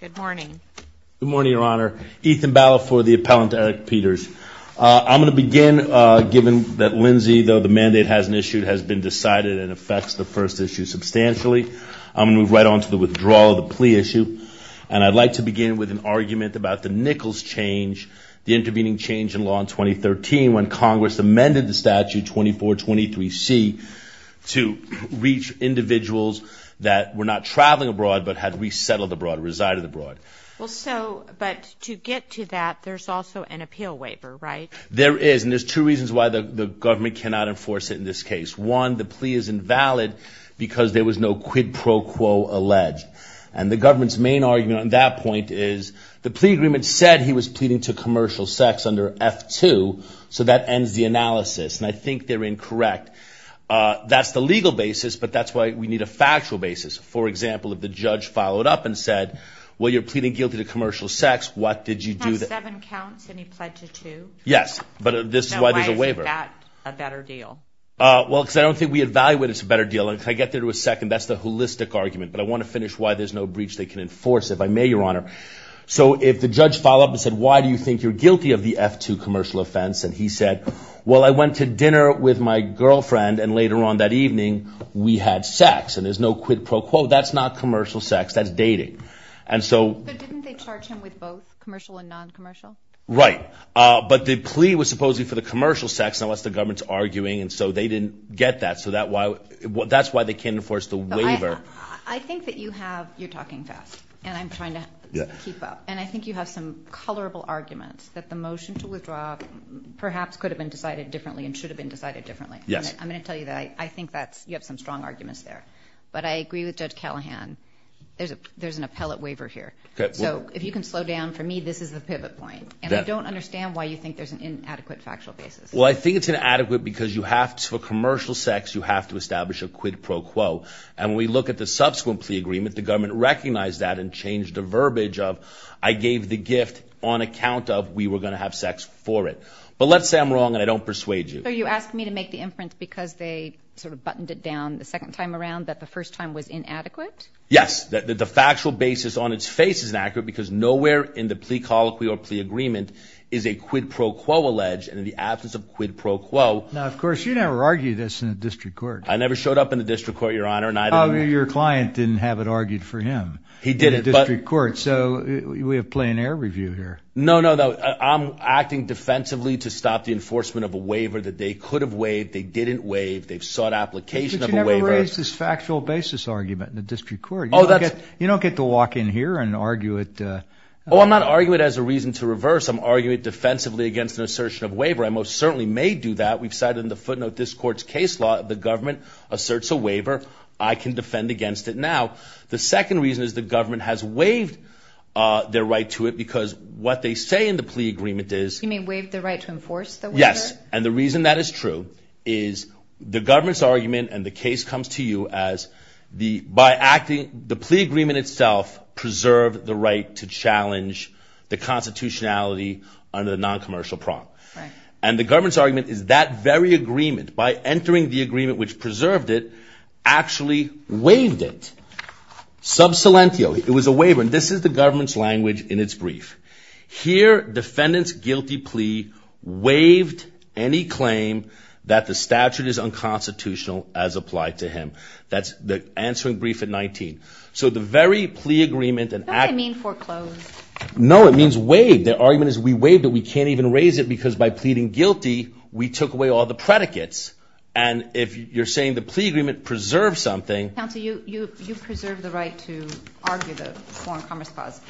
Good morning. Good morning, Your Honor. Ethan Bala for the appellant Erik Peters. I'm going to begin, given that Lindsay, though the mandate hasn't issued, has been decided and affects the first issue substantially. I'm going to move right on to the withdrawal of the plea issue, and I'd like to begin with an argument about the Nichols change, the intervening change in law in 2013, when Congress amended the statute 2423C to reach individuals that were not traveling abroad but had resettled abroad, resided abroad. But to get to that, there's also an appeal waiver, right? There is, and there's two reasons why the government cannot enforce it in this case. One, the plea is invalid because there was no quid pro quo alleged. And the government's main argument on that point is the plea agreement said he was pleading to commercial sex under F-2, so that ends the analysis, and I think they're incorrect. That's the legal basis, but that's why we need a factual basis. For example, if the judge followed up and said, well, you're pleading guilty to commercial sex, what did you do? He had seven counts, and he pled to two. Yes, but this is why there's a waiver. Now, why is that a better deal? Well, because I don't think we evaluate it as a better deal. And can I get there for a second? That's the holistic argument, but I want to finish why there's no breach they can enforce, if I may, Your Honor. So if the judge followed up and said, why do you think you're guilty of the F-2 commercial offense? And he said, well, I went to dinner with my girlfriend, and later on that evening, we had sex. And there's no quid pro quo. That's not commercial sex. That's dating. But didn't they charge him with both, commercial and non-commercial? Right, but the plea was supposedly for the commercial sex, unless the government's arguing, and so they didn't get that. So that's why they can't enforce the waiver. I think that you're talking fast, and I'm trying to keep up. And I think you have some colorable arguments that the motion to withdraw perhaps could have been decided differently and should have been decided differently. I'm going to tell you that I think you have some strong arguments there. But I agree with Judge Callahan. There's an appellate waiver here. So if you can slow down for me, this is the pivot point. And I don't understand why you think there's an inadequate factual basis. Well, I think it's inadequate because for commercial sex, you have to establish a quid pro quo. And when we look at the subsequent plea agreement, the government recognized that and changed the verbiage of I gave the gift on account of we were going to have sex for it. But let's say I'm wrong and I don't persuade you. So you asked me to make the inference because they sort of buttoned it down the second time around that the first time was inadequate? Yes. The factual basis on its face is inaccurate because nowhere in the plea colloquy or plea agreement is a quid pro quo alleged. And in the absence of quid pro quo. Now, of course, you never argue this in a district court. I never showed up in the district court, Your Honor. Your client didn't have it argued for him. He did it. So we have plain air review here. No, no, no. I'm acting defensively to stop the enforcement of a waiver that they could have waived. They didn't waive. They've sought application of a waiver. But you never raised this factual basis argument in the district court. You don't get to walk in here and argue it. Oh, I'm not arguing it as a reason to reverse. I'm arguing it defensively against an assertion of waiver. I most certainly may do that. We've cited in the footnote this court's case law that the government asserts a waiver. I can defend against it now. The second reason is the government has waived their right to it because what they say in the plea agreement is. You mean waived the right to enforce the waiver? Yes. And the reason that is true is the government's argument and the case comes to you as by acting. The plea agreement itself preserved the right to challenge the constitutionality under the noncommercial prompt. And the government's argument is that very agreement, by entering the agreement which preserved it, actually waived it. Sub silentio. It was a waiver. And this is the government's language in its brief. Here, defendant's guilty plea waived any claim that the statute is unconstitutional as applied to him. That's the answering brief at 19. So the very plea agreement. Don't they mean foreclosed? No, it means waived. Their argument is we waived it. We can't even raise it because by pleading guilty, we took away all the predicates. And if you're saying the plea agreement preserved something. Counsel, you preserved the right to argue the Foreign Commerce Clause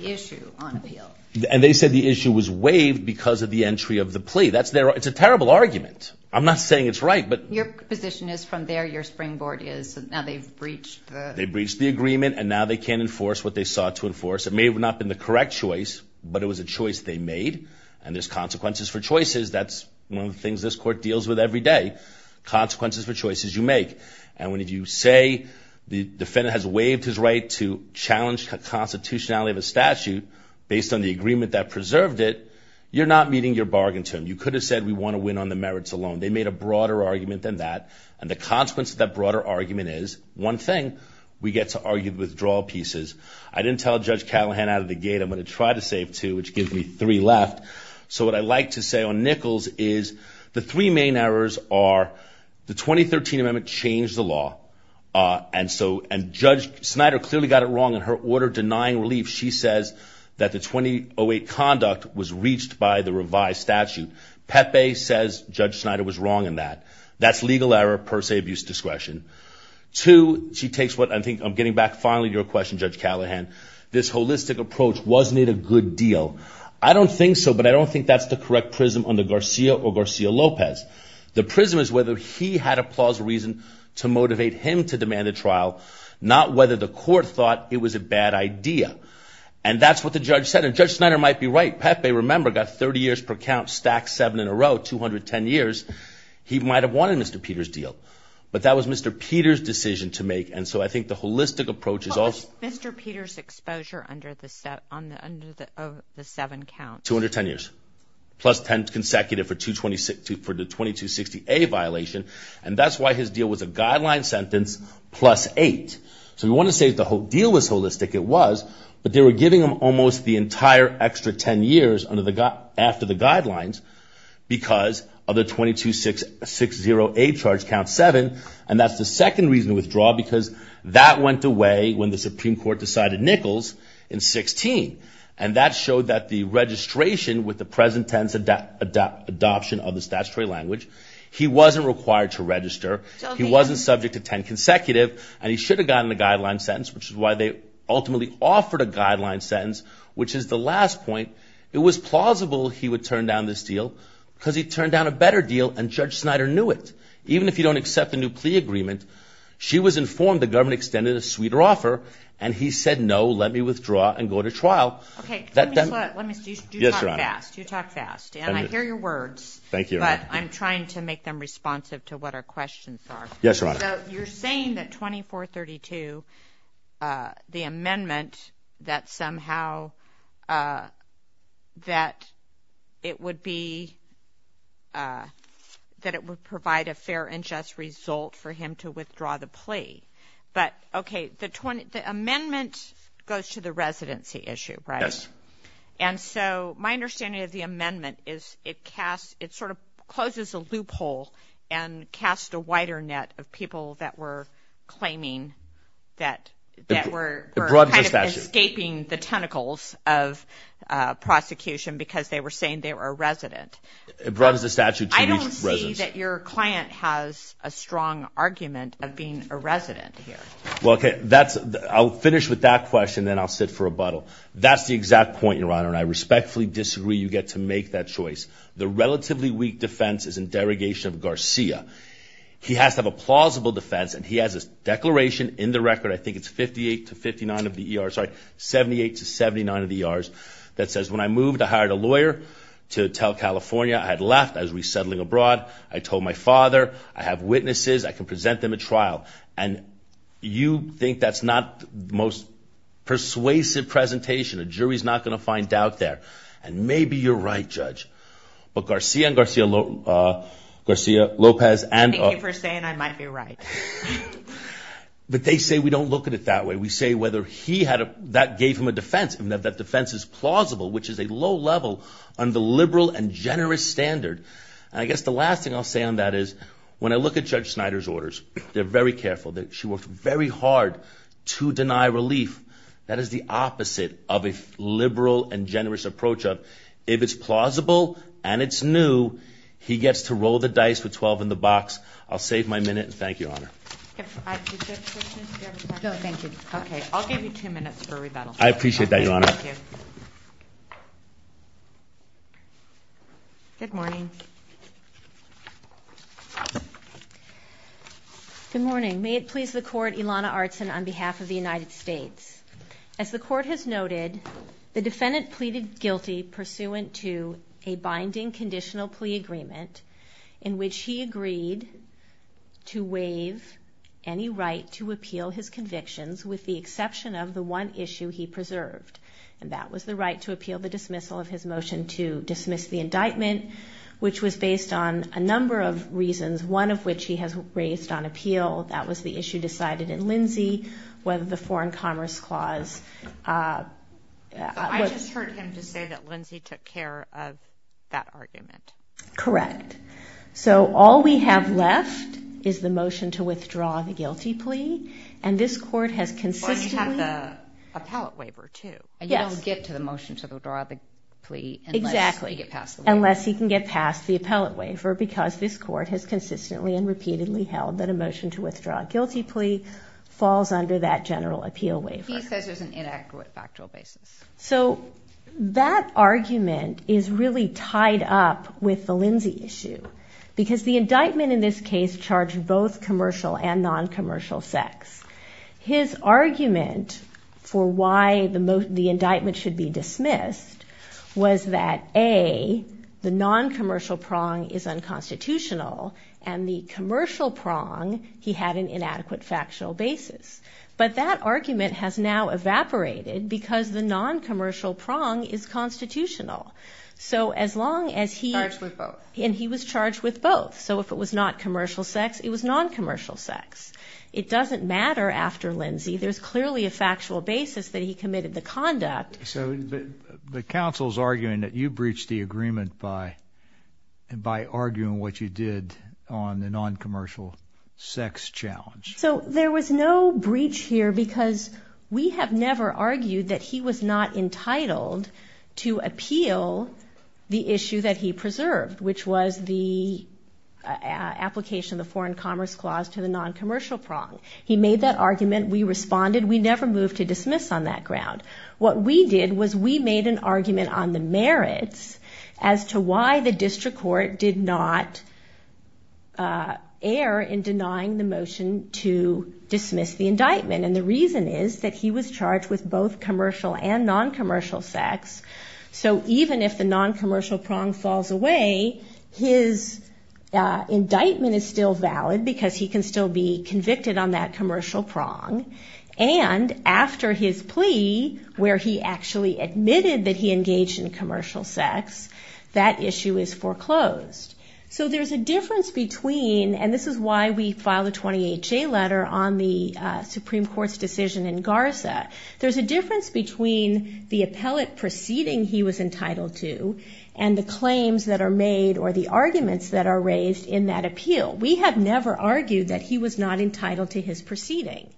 issue on appeal. And they said the issue was waived because of the entry of the plea. That's their argument. It's a terrible argument. I'm not saying it's right, but. Your position is from there, your springboard is now they've breached the. They've breached the agreement and now they can't enforce what they sought to enforce. It may have not been the correct choice, but it was a choice they made. And there's consequences for choices. That's one of the things this court deals with every day. Consequences for choices you make. And when you say the defendant has waived his right to challenge the constitutionality of a statute, based on the agreement that preserved it, you're not meeting your bargain term. You could have said we want to win on the merits alone. They made a broader argument than that. And the consequence of that broader argument is, one thing, we get to argue the withdrawal pieces. I didn't tell Judge Callahan out of the gate I'm going to try to save two, which gives me three left. So what I like to say on Nichols is the three main errors are the 2013 amendment changed the law. And Judge Snyder clearly got it wrong in her order denying relief. She says that the 2008 conduct was reached by the revised statute. Pepe says Judge Snyder was wrong in that. That's legal error per se abuse discretion. Two, she takes what I think I'm getting back finally to your question, Judge Callahan, this holistic approach, wasn't it a good deal? I don't think so, but I don't think that's the correct prism under Garcia or Garcia-Lopez. The prism is whether he had a plausible reason to motivate him to demand a trial, not whether the court thought it was a bad idea. And that's what the judge said. And Judge Snyder might be right. Pepe, remember, got 30 years per count, stacked seven in a row, 210 years. He might have wanted Mr. Peter's deal. But that was Mr. Peter's decision to make. And so I think the holistic approach is also Mr. Peter's exposure under the seven count. 210 years, plus 10 consecutive for the 2260A violation. And that's why his deal was a guideline sentence plus eight. So we want to say the whole deal was holistic. It was, but they were giving him almost the entire extra 10 years after the guidelines because of the 2260A charge count seven. And that's the second reason to withdraw because that went away when the Supreme Court decided Nichols in 16. And that showed that the registration with the present tense adoption of the statutory language, he wasn't required to register, he wasn't subject to 10 consecutive, and he should have gotten a guideline sentence, which is why they ultimately offered a guideline sentence, which is the last point. It was plausible he would turn down this deal because he turned down a better deal, and Judge Snyder knew it. Even if you don't accept the new plea agreement, she was informed the government extended a sweeter offer, and he said, no, let me withdraw and go to trial. Okay. Let me say, you talk fast. Yes, Your Honor. You talk fast. And I hear your words. Thank you, Your Honor. But I'm trying to make them responsive to what our questions are. Yes, Your Honor. So you're saying that 2432, the amendment that somehow that it would be, that it would provide a fair and just result for him to withdraw the plea. But, okay, the amendment goes to the residency issue, right? Yes. And so my understanding of the amendment is it sort of closes a loophole and casts a wider net of people that were claiming that were kind of escaping the tentacles of prosecution because they were saying they were a resident. It broadens the statute to each resident. I don't see that your client has a strong argument of being a resident here. Well, okay, I'll finish with that question, then I'll sit for rebuttal. That's the exact point, Your Honor, and I respectfully disagree you get to make that choice. The relatively weak defense is in derogation of Garcia. He has to have a plausible defense, and he has a declaration in the record, I think it's 58 to 59 of the ER, sorry, 78 to 79 of the ERs, that says, when I moved, I hired a lawyer to tell California I had left, I was resettling abroad, I told my father, I have witnesses, I can present them at trial. And you think that's not the most persuasive presentation? A jury's not going to find out there. And maybe you're right, Judge, but Garcia and Garcia Lopez and – Thank you for saying I might be right. But they say we don't look at it that way. We say whether he had a – that gave him a defense, and that defense is plausible, which is a low level on the liberal and generous standard. And I guess the last thing I'll say on that is when I look at Judge Snyder's orders, they're very careful. She worked very hard to deny relief. That is the opposite of a liberal and generous approach. If it's plausible and it's new, he gets to roll the dice with 12 in the box. I'll save my minute, and thank you, Your Honor. Okay, I'll give you two minutes for rebuttal. I appreciate that, Your Honor. Thank you. Good morning. Good morning. May it please the Court, Ilana Artson on behalf of the United States. As the Court has noted, the defendant pleaded guilty pursuant to a binding conditional plea agreement in which he agreed to waive any right to appeal his convictions with the exception of the one issue he preserved, and that was the right to appeal the dismissal of his motion to dismiss the indictment, which was based on a number of reasons, one of which he has raised on appeal. That was the issue decided in Lindsay, whether the Foreign Commerce Clause – I just heard him to say that Lindsay took care of that argument. Correct. So all we have left is the motion to withdraw the guilty plea, and this Court has consistently – But you have the appellate waiver, too. Yes. And you don't get to the motion to withdraw the plea unless you get past the waiver. Exactly, unless he can get past the appellate waiver, because this Court has consistently and repeatedly held that a motion to withdraw a guilty plea falls under that general appeal waiver. He says there's an inaccurate factual basis. So that argument is really tied up with the Lindsay issue, because the indictment in this case charged both commercial and non-commercial sex. His argument for why the indictment should be dismissed was that, A, the non-commercial prong is unconstitutional, and the commercial prong he had an inadequate factual basis. But that argument has now evaporated because the non-commercial prong is constitutional. So as long as he – Charged with both. And he was charged with both. So if it was not commercial sex, it was non-commercial sex. It doesn't matter after Lindsay. There's clearly a factual basis that he committed the conduct. So the counsel's arguing that you breached the agreement by arguing what you did on the non-commercial sex challenge. So there was no breach here because we have never argued that he was not entitled to appeal the issue that he preserved, which was the application of the Foreign Commerce Clause to the non-commercial prong. He made that argument. We responded. We never moved to dismiss on that ground. What we did was we made an argument on the merits as to why the district court did not err in denying the motion to dismiss the indictment. And the reason is that he was charged with both commercial and non-commercial sex. So even if the non-commercial prong falls away, his indictment is still valid because he can still be convicted on that commercial prong. And after his plea where he actually admitted that he engaged in commercial sex, that issue is foreclosed. So there's a difference between, and this is why we filed a 28-J letter on the Supreme Court's decision in Garza. There's a difference between the appellate proceeding he was entitled to and the claims that are made or the arguments that are raised in that appeal. We have never argued that he was not entitled to his proceeding.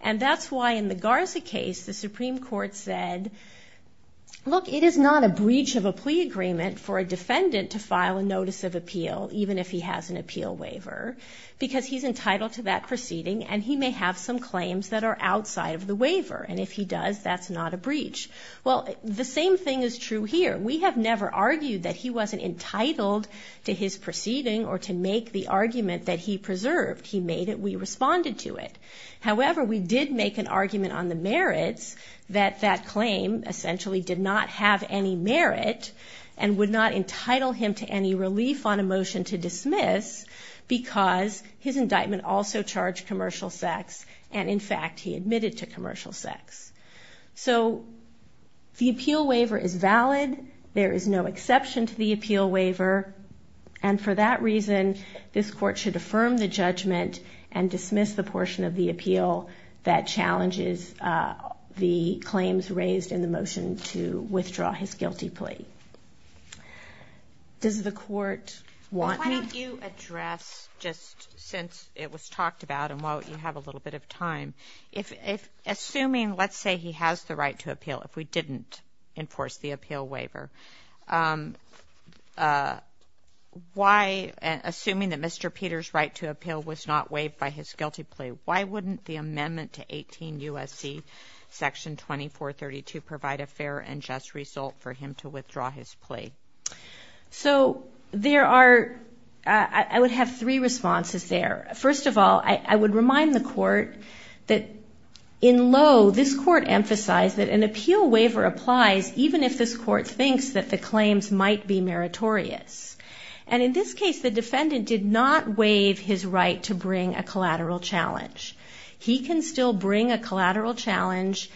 And that's why in the Garza case, the Supreme Court said, look, it is not a breach of a plea agreement for a defendant to file a notice of appeal, even if he has an appeal waiver, because he's entitled to that proceeding and he may have some claims that are outside of the waiver. And if he does, that's not a breach. Well, the same thing is true here. We have never argued that he wasn't entitled to his proceeding or to make the argument that he preserved. He made it. We responded to it. However, we did make an argument on the merits that that claim essentially did not have any merit and would not entitle him to any relief on a motion to dismiss because his indictment also charged commercial sex, and in fact he admitted to commercial sex. So the appeal waiver is valid. There is no exception to the appeal waiver. And for that reason, this Court should affirm the judgment and dismiss the portion of the appeal that challenges the claims raised in the motion to withdraw his guilty plea. Does the Court want... Why don't you address, just since it was talked about and while you have a little bit of time, assuming, let's say, he has the right to appeal if we didn't enforce the appeal waiver, why, assuming that Mr. Peter's right to appeal was not waived by his guilty plea, why wouldn't the amendment to 18 U.S.C. section 2432 provide a fair and just result for him to withdraw his plea? So there are... I would have three responses there. First of all, I would remind the Court that in low, this Court emphasized that an appeal waiver applies even if this Court thinks that the claims might be meritorious. And in this case, the defendant did not waive his right to bring a collateral challenge. He can still bring a collateral challenge,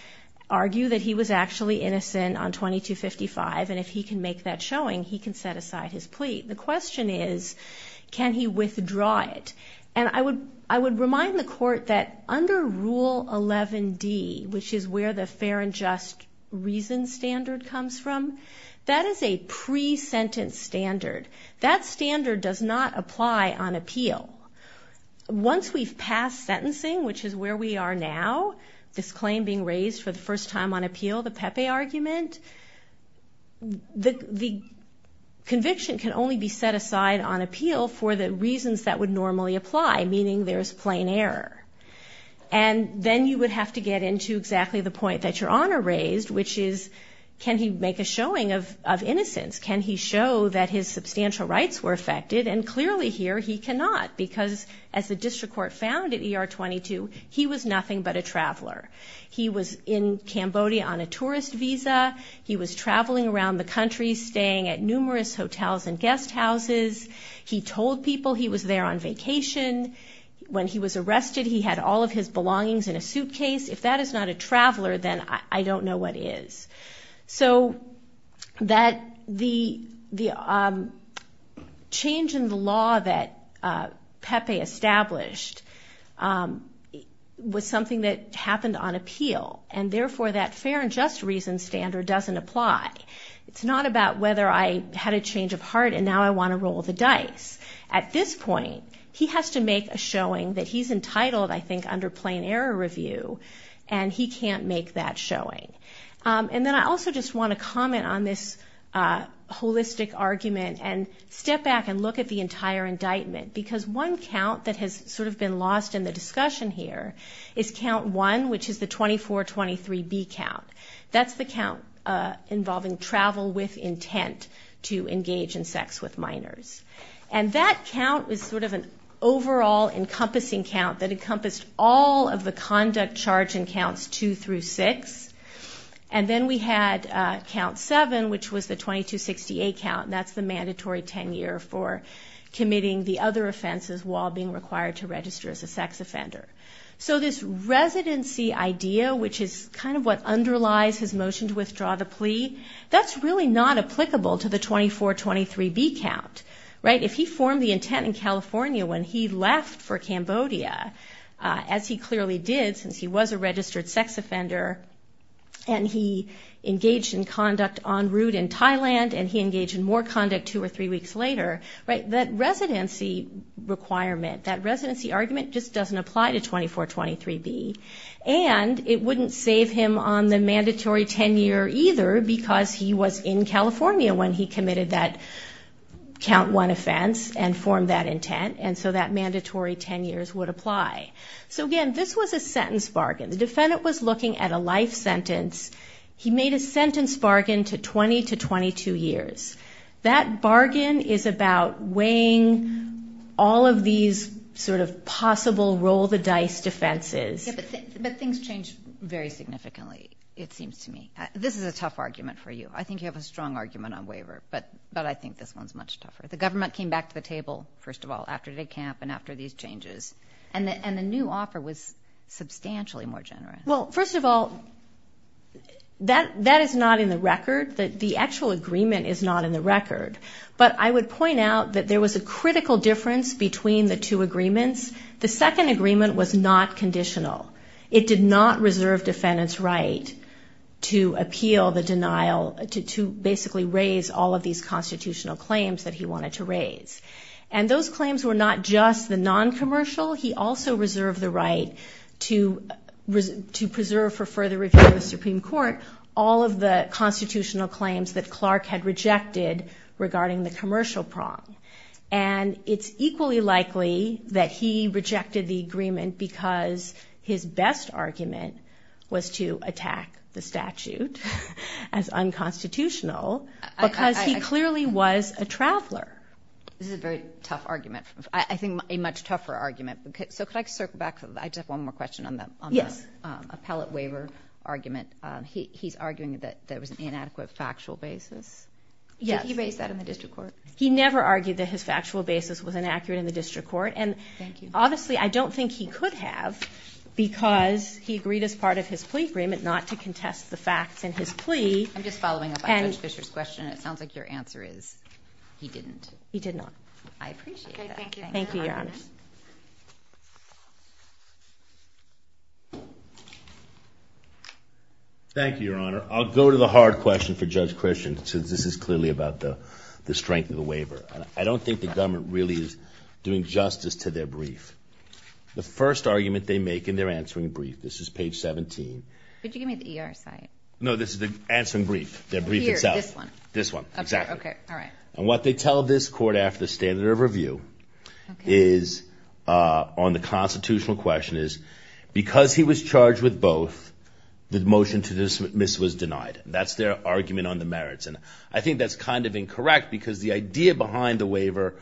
argue that he was actually innocent on 2255, and if he can make that showing, he can set aside his plea. The question is, can he withdraw it? And I would remind the Court that under Rule 11D, which is where the fair and just reason standard comes from, that is a pre-sentence standard. That standard does not apply on appeal. Once we've passed sentencing, which is where we are now, this claim being raised for the first time on appeal, the Pepe argument, the conviction can only be set aside on appeal for the reasons that would normally apply, meaning there's plain error. And then you would have to get into exactly the point that Your Honor raised, which is, can he make a showing of innocence? Can he show that his substantial rights were affected? And clearly here, he cannot, because as the District Court found at ER 22, he was nothing but a traveler. He was in Cambodia on a tourist visa. He was traveling around the country, staying at numerous hotels and guest houses. He told people he was there on vacation. When he was arrested, he had all of his belongings in a suitcase. If that is not a traveler, then I don't know what is. So the change in the law that Pepe established was something that happened on appeal, and therefore that fair and just reason standard doesn't apply. It's not about whether I had a change of heart and now I want to roll the dice. At this point, he has to make a showing that he's entitled, I think, under plain error review, and he can't make that showing. And then I also just want to comment on this holistic argument and step back and look at the entire indictment, because one count that has sort of been lost in the discussion here is count one, which is the 2423B count. That's the count involving travel with intent to engage in sex with minors. And that count is sort of an overall encompassing count that encompassed all of the conduct charge in counts two through six. And then we had count seven, which was the 2268 count, and that's the mandatory tenure for committing the other offenses while being required to register as a sex offender. So this residency idea, which is kind of what underlies his motion to withdraw the plea, that's really not applicable to the 2423B count. If he formed the intent in California when he left for Cambodia, as he clearly did since he was a registered sex offender, and he engaged in conduct en route in Thailand, and he engaged in more conduct two or three weeks later, that residency requirement, that residency argument, just doesn't apply to 2423B. And it wouldn't save him on the mandatory tenure either, because he was in California when he committed that count one offense and formed that intent, and so that mandatory tenure would apply. So again, this was a sentence bargain. The defendant was looking at a life sentence. He made a sentence bargain to 20 to 22 years. That bargain is about weighing all of these sort of possible roll-the-dice defenses. Yeah, but things change very significantly, it seems to me. This is a tough argument for you. I think you have a strong argument on waiver, but I think this one's much tougher. The government came back to the table, first of all, after the camp and after these changes, and the new offer was substantially more generous. Well, first of all, that is not in the record. The actual agreement is not in the record. But I would point out that there was a critical difference between the two agreements. The second agreement was not conditional. It did not reserve defendants' right to appeal the denial, to basically raise all of these constitutional claims that he wanted to raise. And those claims were not just the noncommercial. He also reserved the right to preserve, for further review of the Supreme Court, all of the constitutional claims that Clark had rejected regarding the commercial prong. And it's equally likely that he rejected the agreement because his best argument was to attack the statute as unconstitutional because he clearly was a traveler. This is a very tough argument. I think a much tougher argument. So could I circle back? I just have one more question on the appellate waiver argument. He's arguing that there was an inadequate factual basis. Did he raise that in the district court? He never argued that his factual basis was inaccurate in the district court. And obviously I don't think he could have because he agreed as part of his plea agreement not to contest the facts in his plea. I'm just following up on Judge Fisher's question. It sounds like your answer is he didn't. He did not. I appreciate that. Thank you, Your Honor. Thank you, Your Honor. I'll go to the hard question for Judge Christian since this is clearly about the strength of the waiver. I don't think the government really is doing justice to their brief. The first argument they make in their answering brief, this is page 17. Could you give me the ER site? No, this is the answering brief, their brief itself. Here, this one. This one, exactly. Okay, all right. And what they tell this court after the standard of review is on the constitutional question is because he was charged with both, the motion to dismiss was denied. That's their argument on the merits. And I think that's kind of incorrect because the idea behind the waiver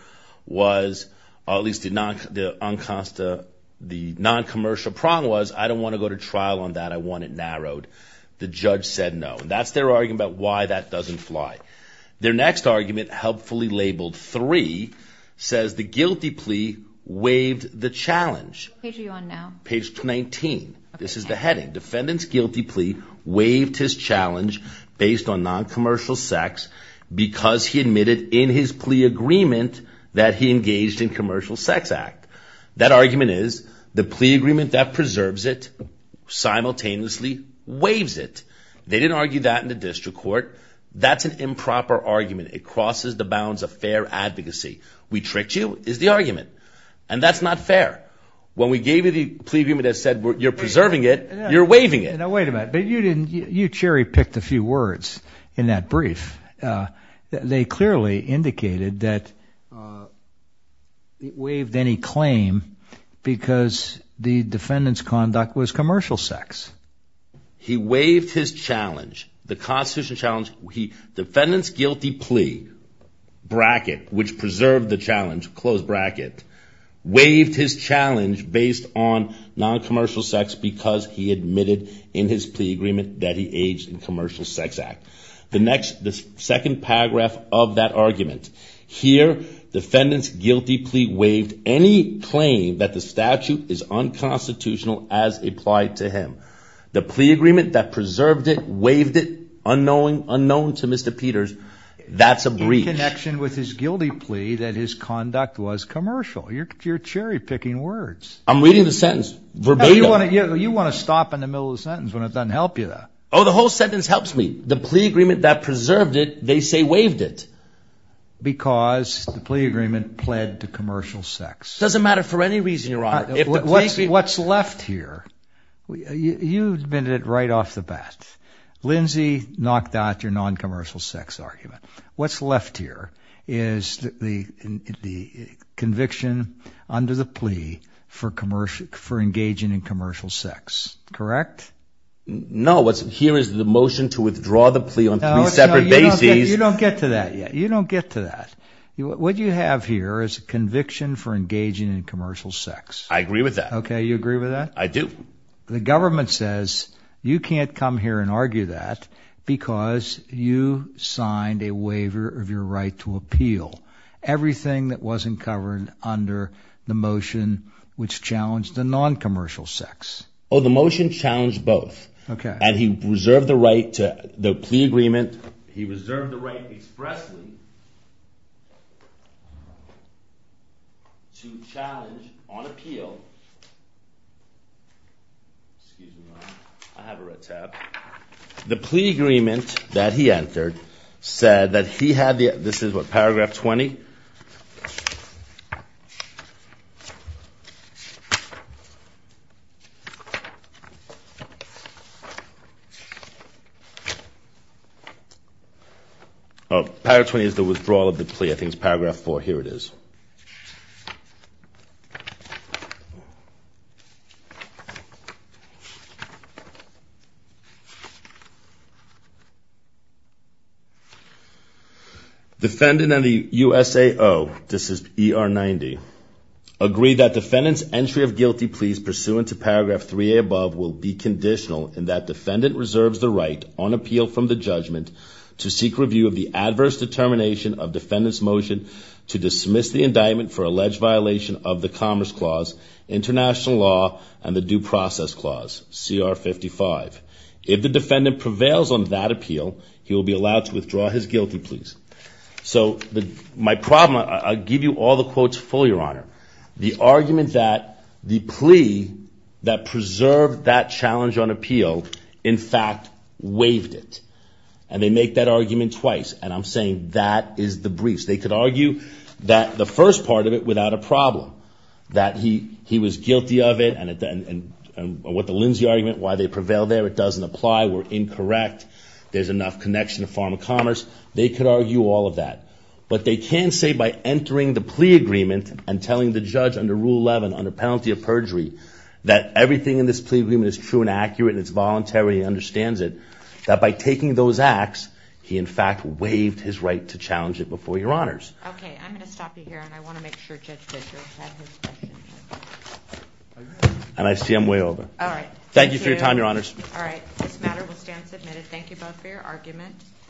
was, or at least the noncommercial prong was, I don't want to go to trial on that, I want it narrowed. The judge said no. That's their argument about why that doesn't fly. Their next argument, helpfully labeled 3, says the guilty plea waived the challenge. Which page are you on now? Page 19. This is the heading, defendant's guilty plea waived his challenge based on noncommercial sex because he admitted in his plea agreement that he engaged in commercial sex act. That argument is the plea agreement that preserves it simultaneously waives it. They didn't argue that in the district court. That's an improper argument. It crosses the bounds of fair advocacy. We tricked you is the argument. And that's not fair. When we gave you the plea agreement that said you're preserving it, you're waiving it. Now, wait a minute. You cherry picked a few words in that brief. They clearly indicated that it waived any claim because the defendant's conduct was commercial sex. He waived his challenge, the constitutional challenge. Defendant's guilty plea, bracket, which preserved the challenge, close bracket, waived his challenge based on noncommercial sex because he admitted in his plea agreement that he engaged in commercial sex act. The second paragraph of that argument. Here, defendant's guilty plea waived any claim that the statute is unconstitutional as applied to him. The plea agreement that preserved it, waived it, unknown to Mr. Peters, that's a breach. There's no connection with his guilty plea that his conduct was commercial. You're cherry picking words. I'm reading the sentence verbatim. You want to stop in the middle of the sentence when it doesn't help you. Oh, the whole sentence helps me. The plea agreement that preserved it, they say waived it. Because the plea agreement pled to commercial sex. It doesn't matter for any reason, Your Honor. What's left here? You admitted it right off the bat. Lindsay knocked out your noncommercial sex argument. What's left here is the conviction under the plea for engaging in commercial sex. Correct? No. Here is the motion to withdraw the plea on three separate bases. You don't get to that yet. You don't get to that. What you have here is a conviction for engaging in commercial sex. I agree with that. Okay. You agree with that? I do. The government says you can't come here and argue that because you signed a waiver of your right to appeal. Everything that wasn't covered under the motion which challenged the noncommercial sex. Oh, the motion challenged both. Okay. And he reserved the right to the plea agreement. And he reserved the right expressly to challenge on appeal. Excuse me, Your Honor. I have a red tab. The plea agreement that he entered said that he had the ‑‑ this is what, paragraph 20? Oh, paragraph 20 is the withdrawal of the plea. I think it's paragraph 4. Here it is. Defendant and the USAO, this is ER 90, agree that defendant's entry of guilty pleas pursuant to paragraph 3A above will be conditional in that defendant reserves the right on appeal from the judgment to seek review of the adverse determination of defendant's motion to dismiss the indictment for alleged violation of the Commerce Clause, International Law, and the Due Process Clause, CR 55. If the defendant prevails on that appeal, he will be allowed to withdraw his guilty pleas. So my problem, I'll give you all the quotes full, Your Honor. The argument that the plea that preserved that challenge on appeal in fact waived it. And they make that argument twice. And I'm saying that is the briefs. They could argue that the first part of it without a problem, that he was guilty of it and what the Lindsay argument, why they prevail there, it doesn't apply, we're incorrect, there's enough connection to Farm and Commerce. They could argue all of that. But they can't say by entering the plea agreement and telling the judge under Rule 11, under penalty of perjury, that everything in this plea agreement is true and accurate and it's voluntary and he understands it, that by taking those acts, he in fact waived his right to challenge it before Your Honors. Okay, I'm going to stop you here and I want to make sure Judge Fitzgerald has his question. And I see I'm way over. All right. Thank you for your time, Your Honors. All right, this matter will stand submitted. Thank you both for your argument.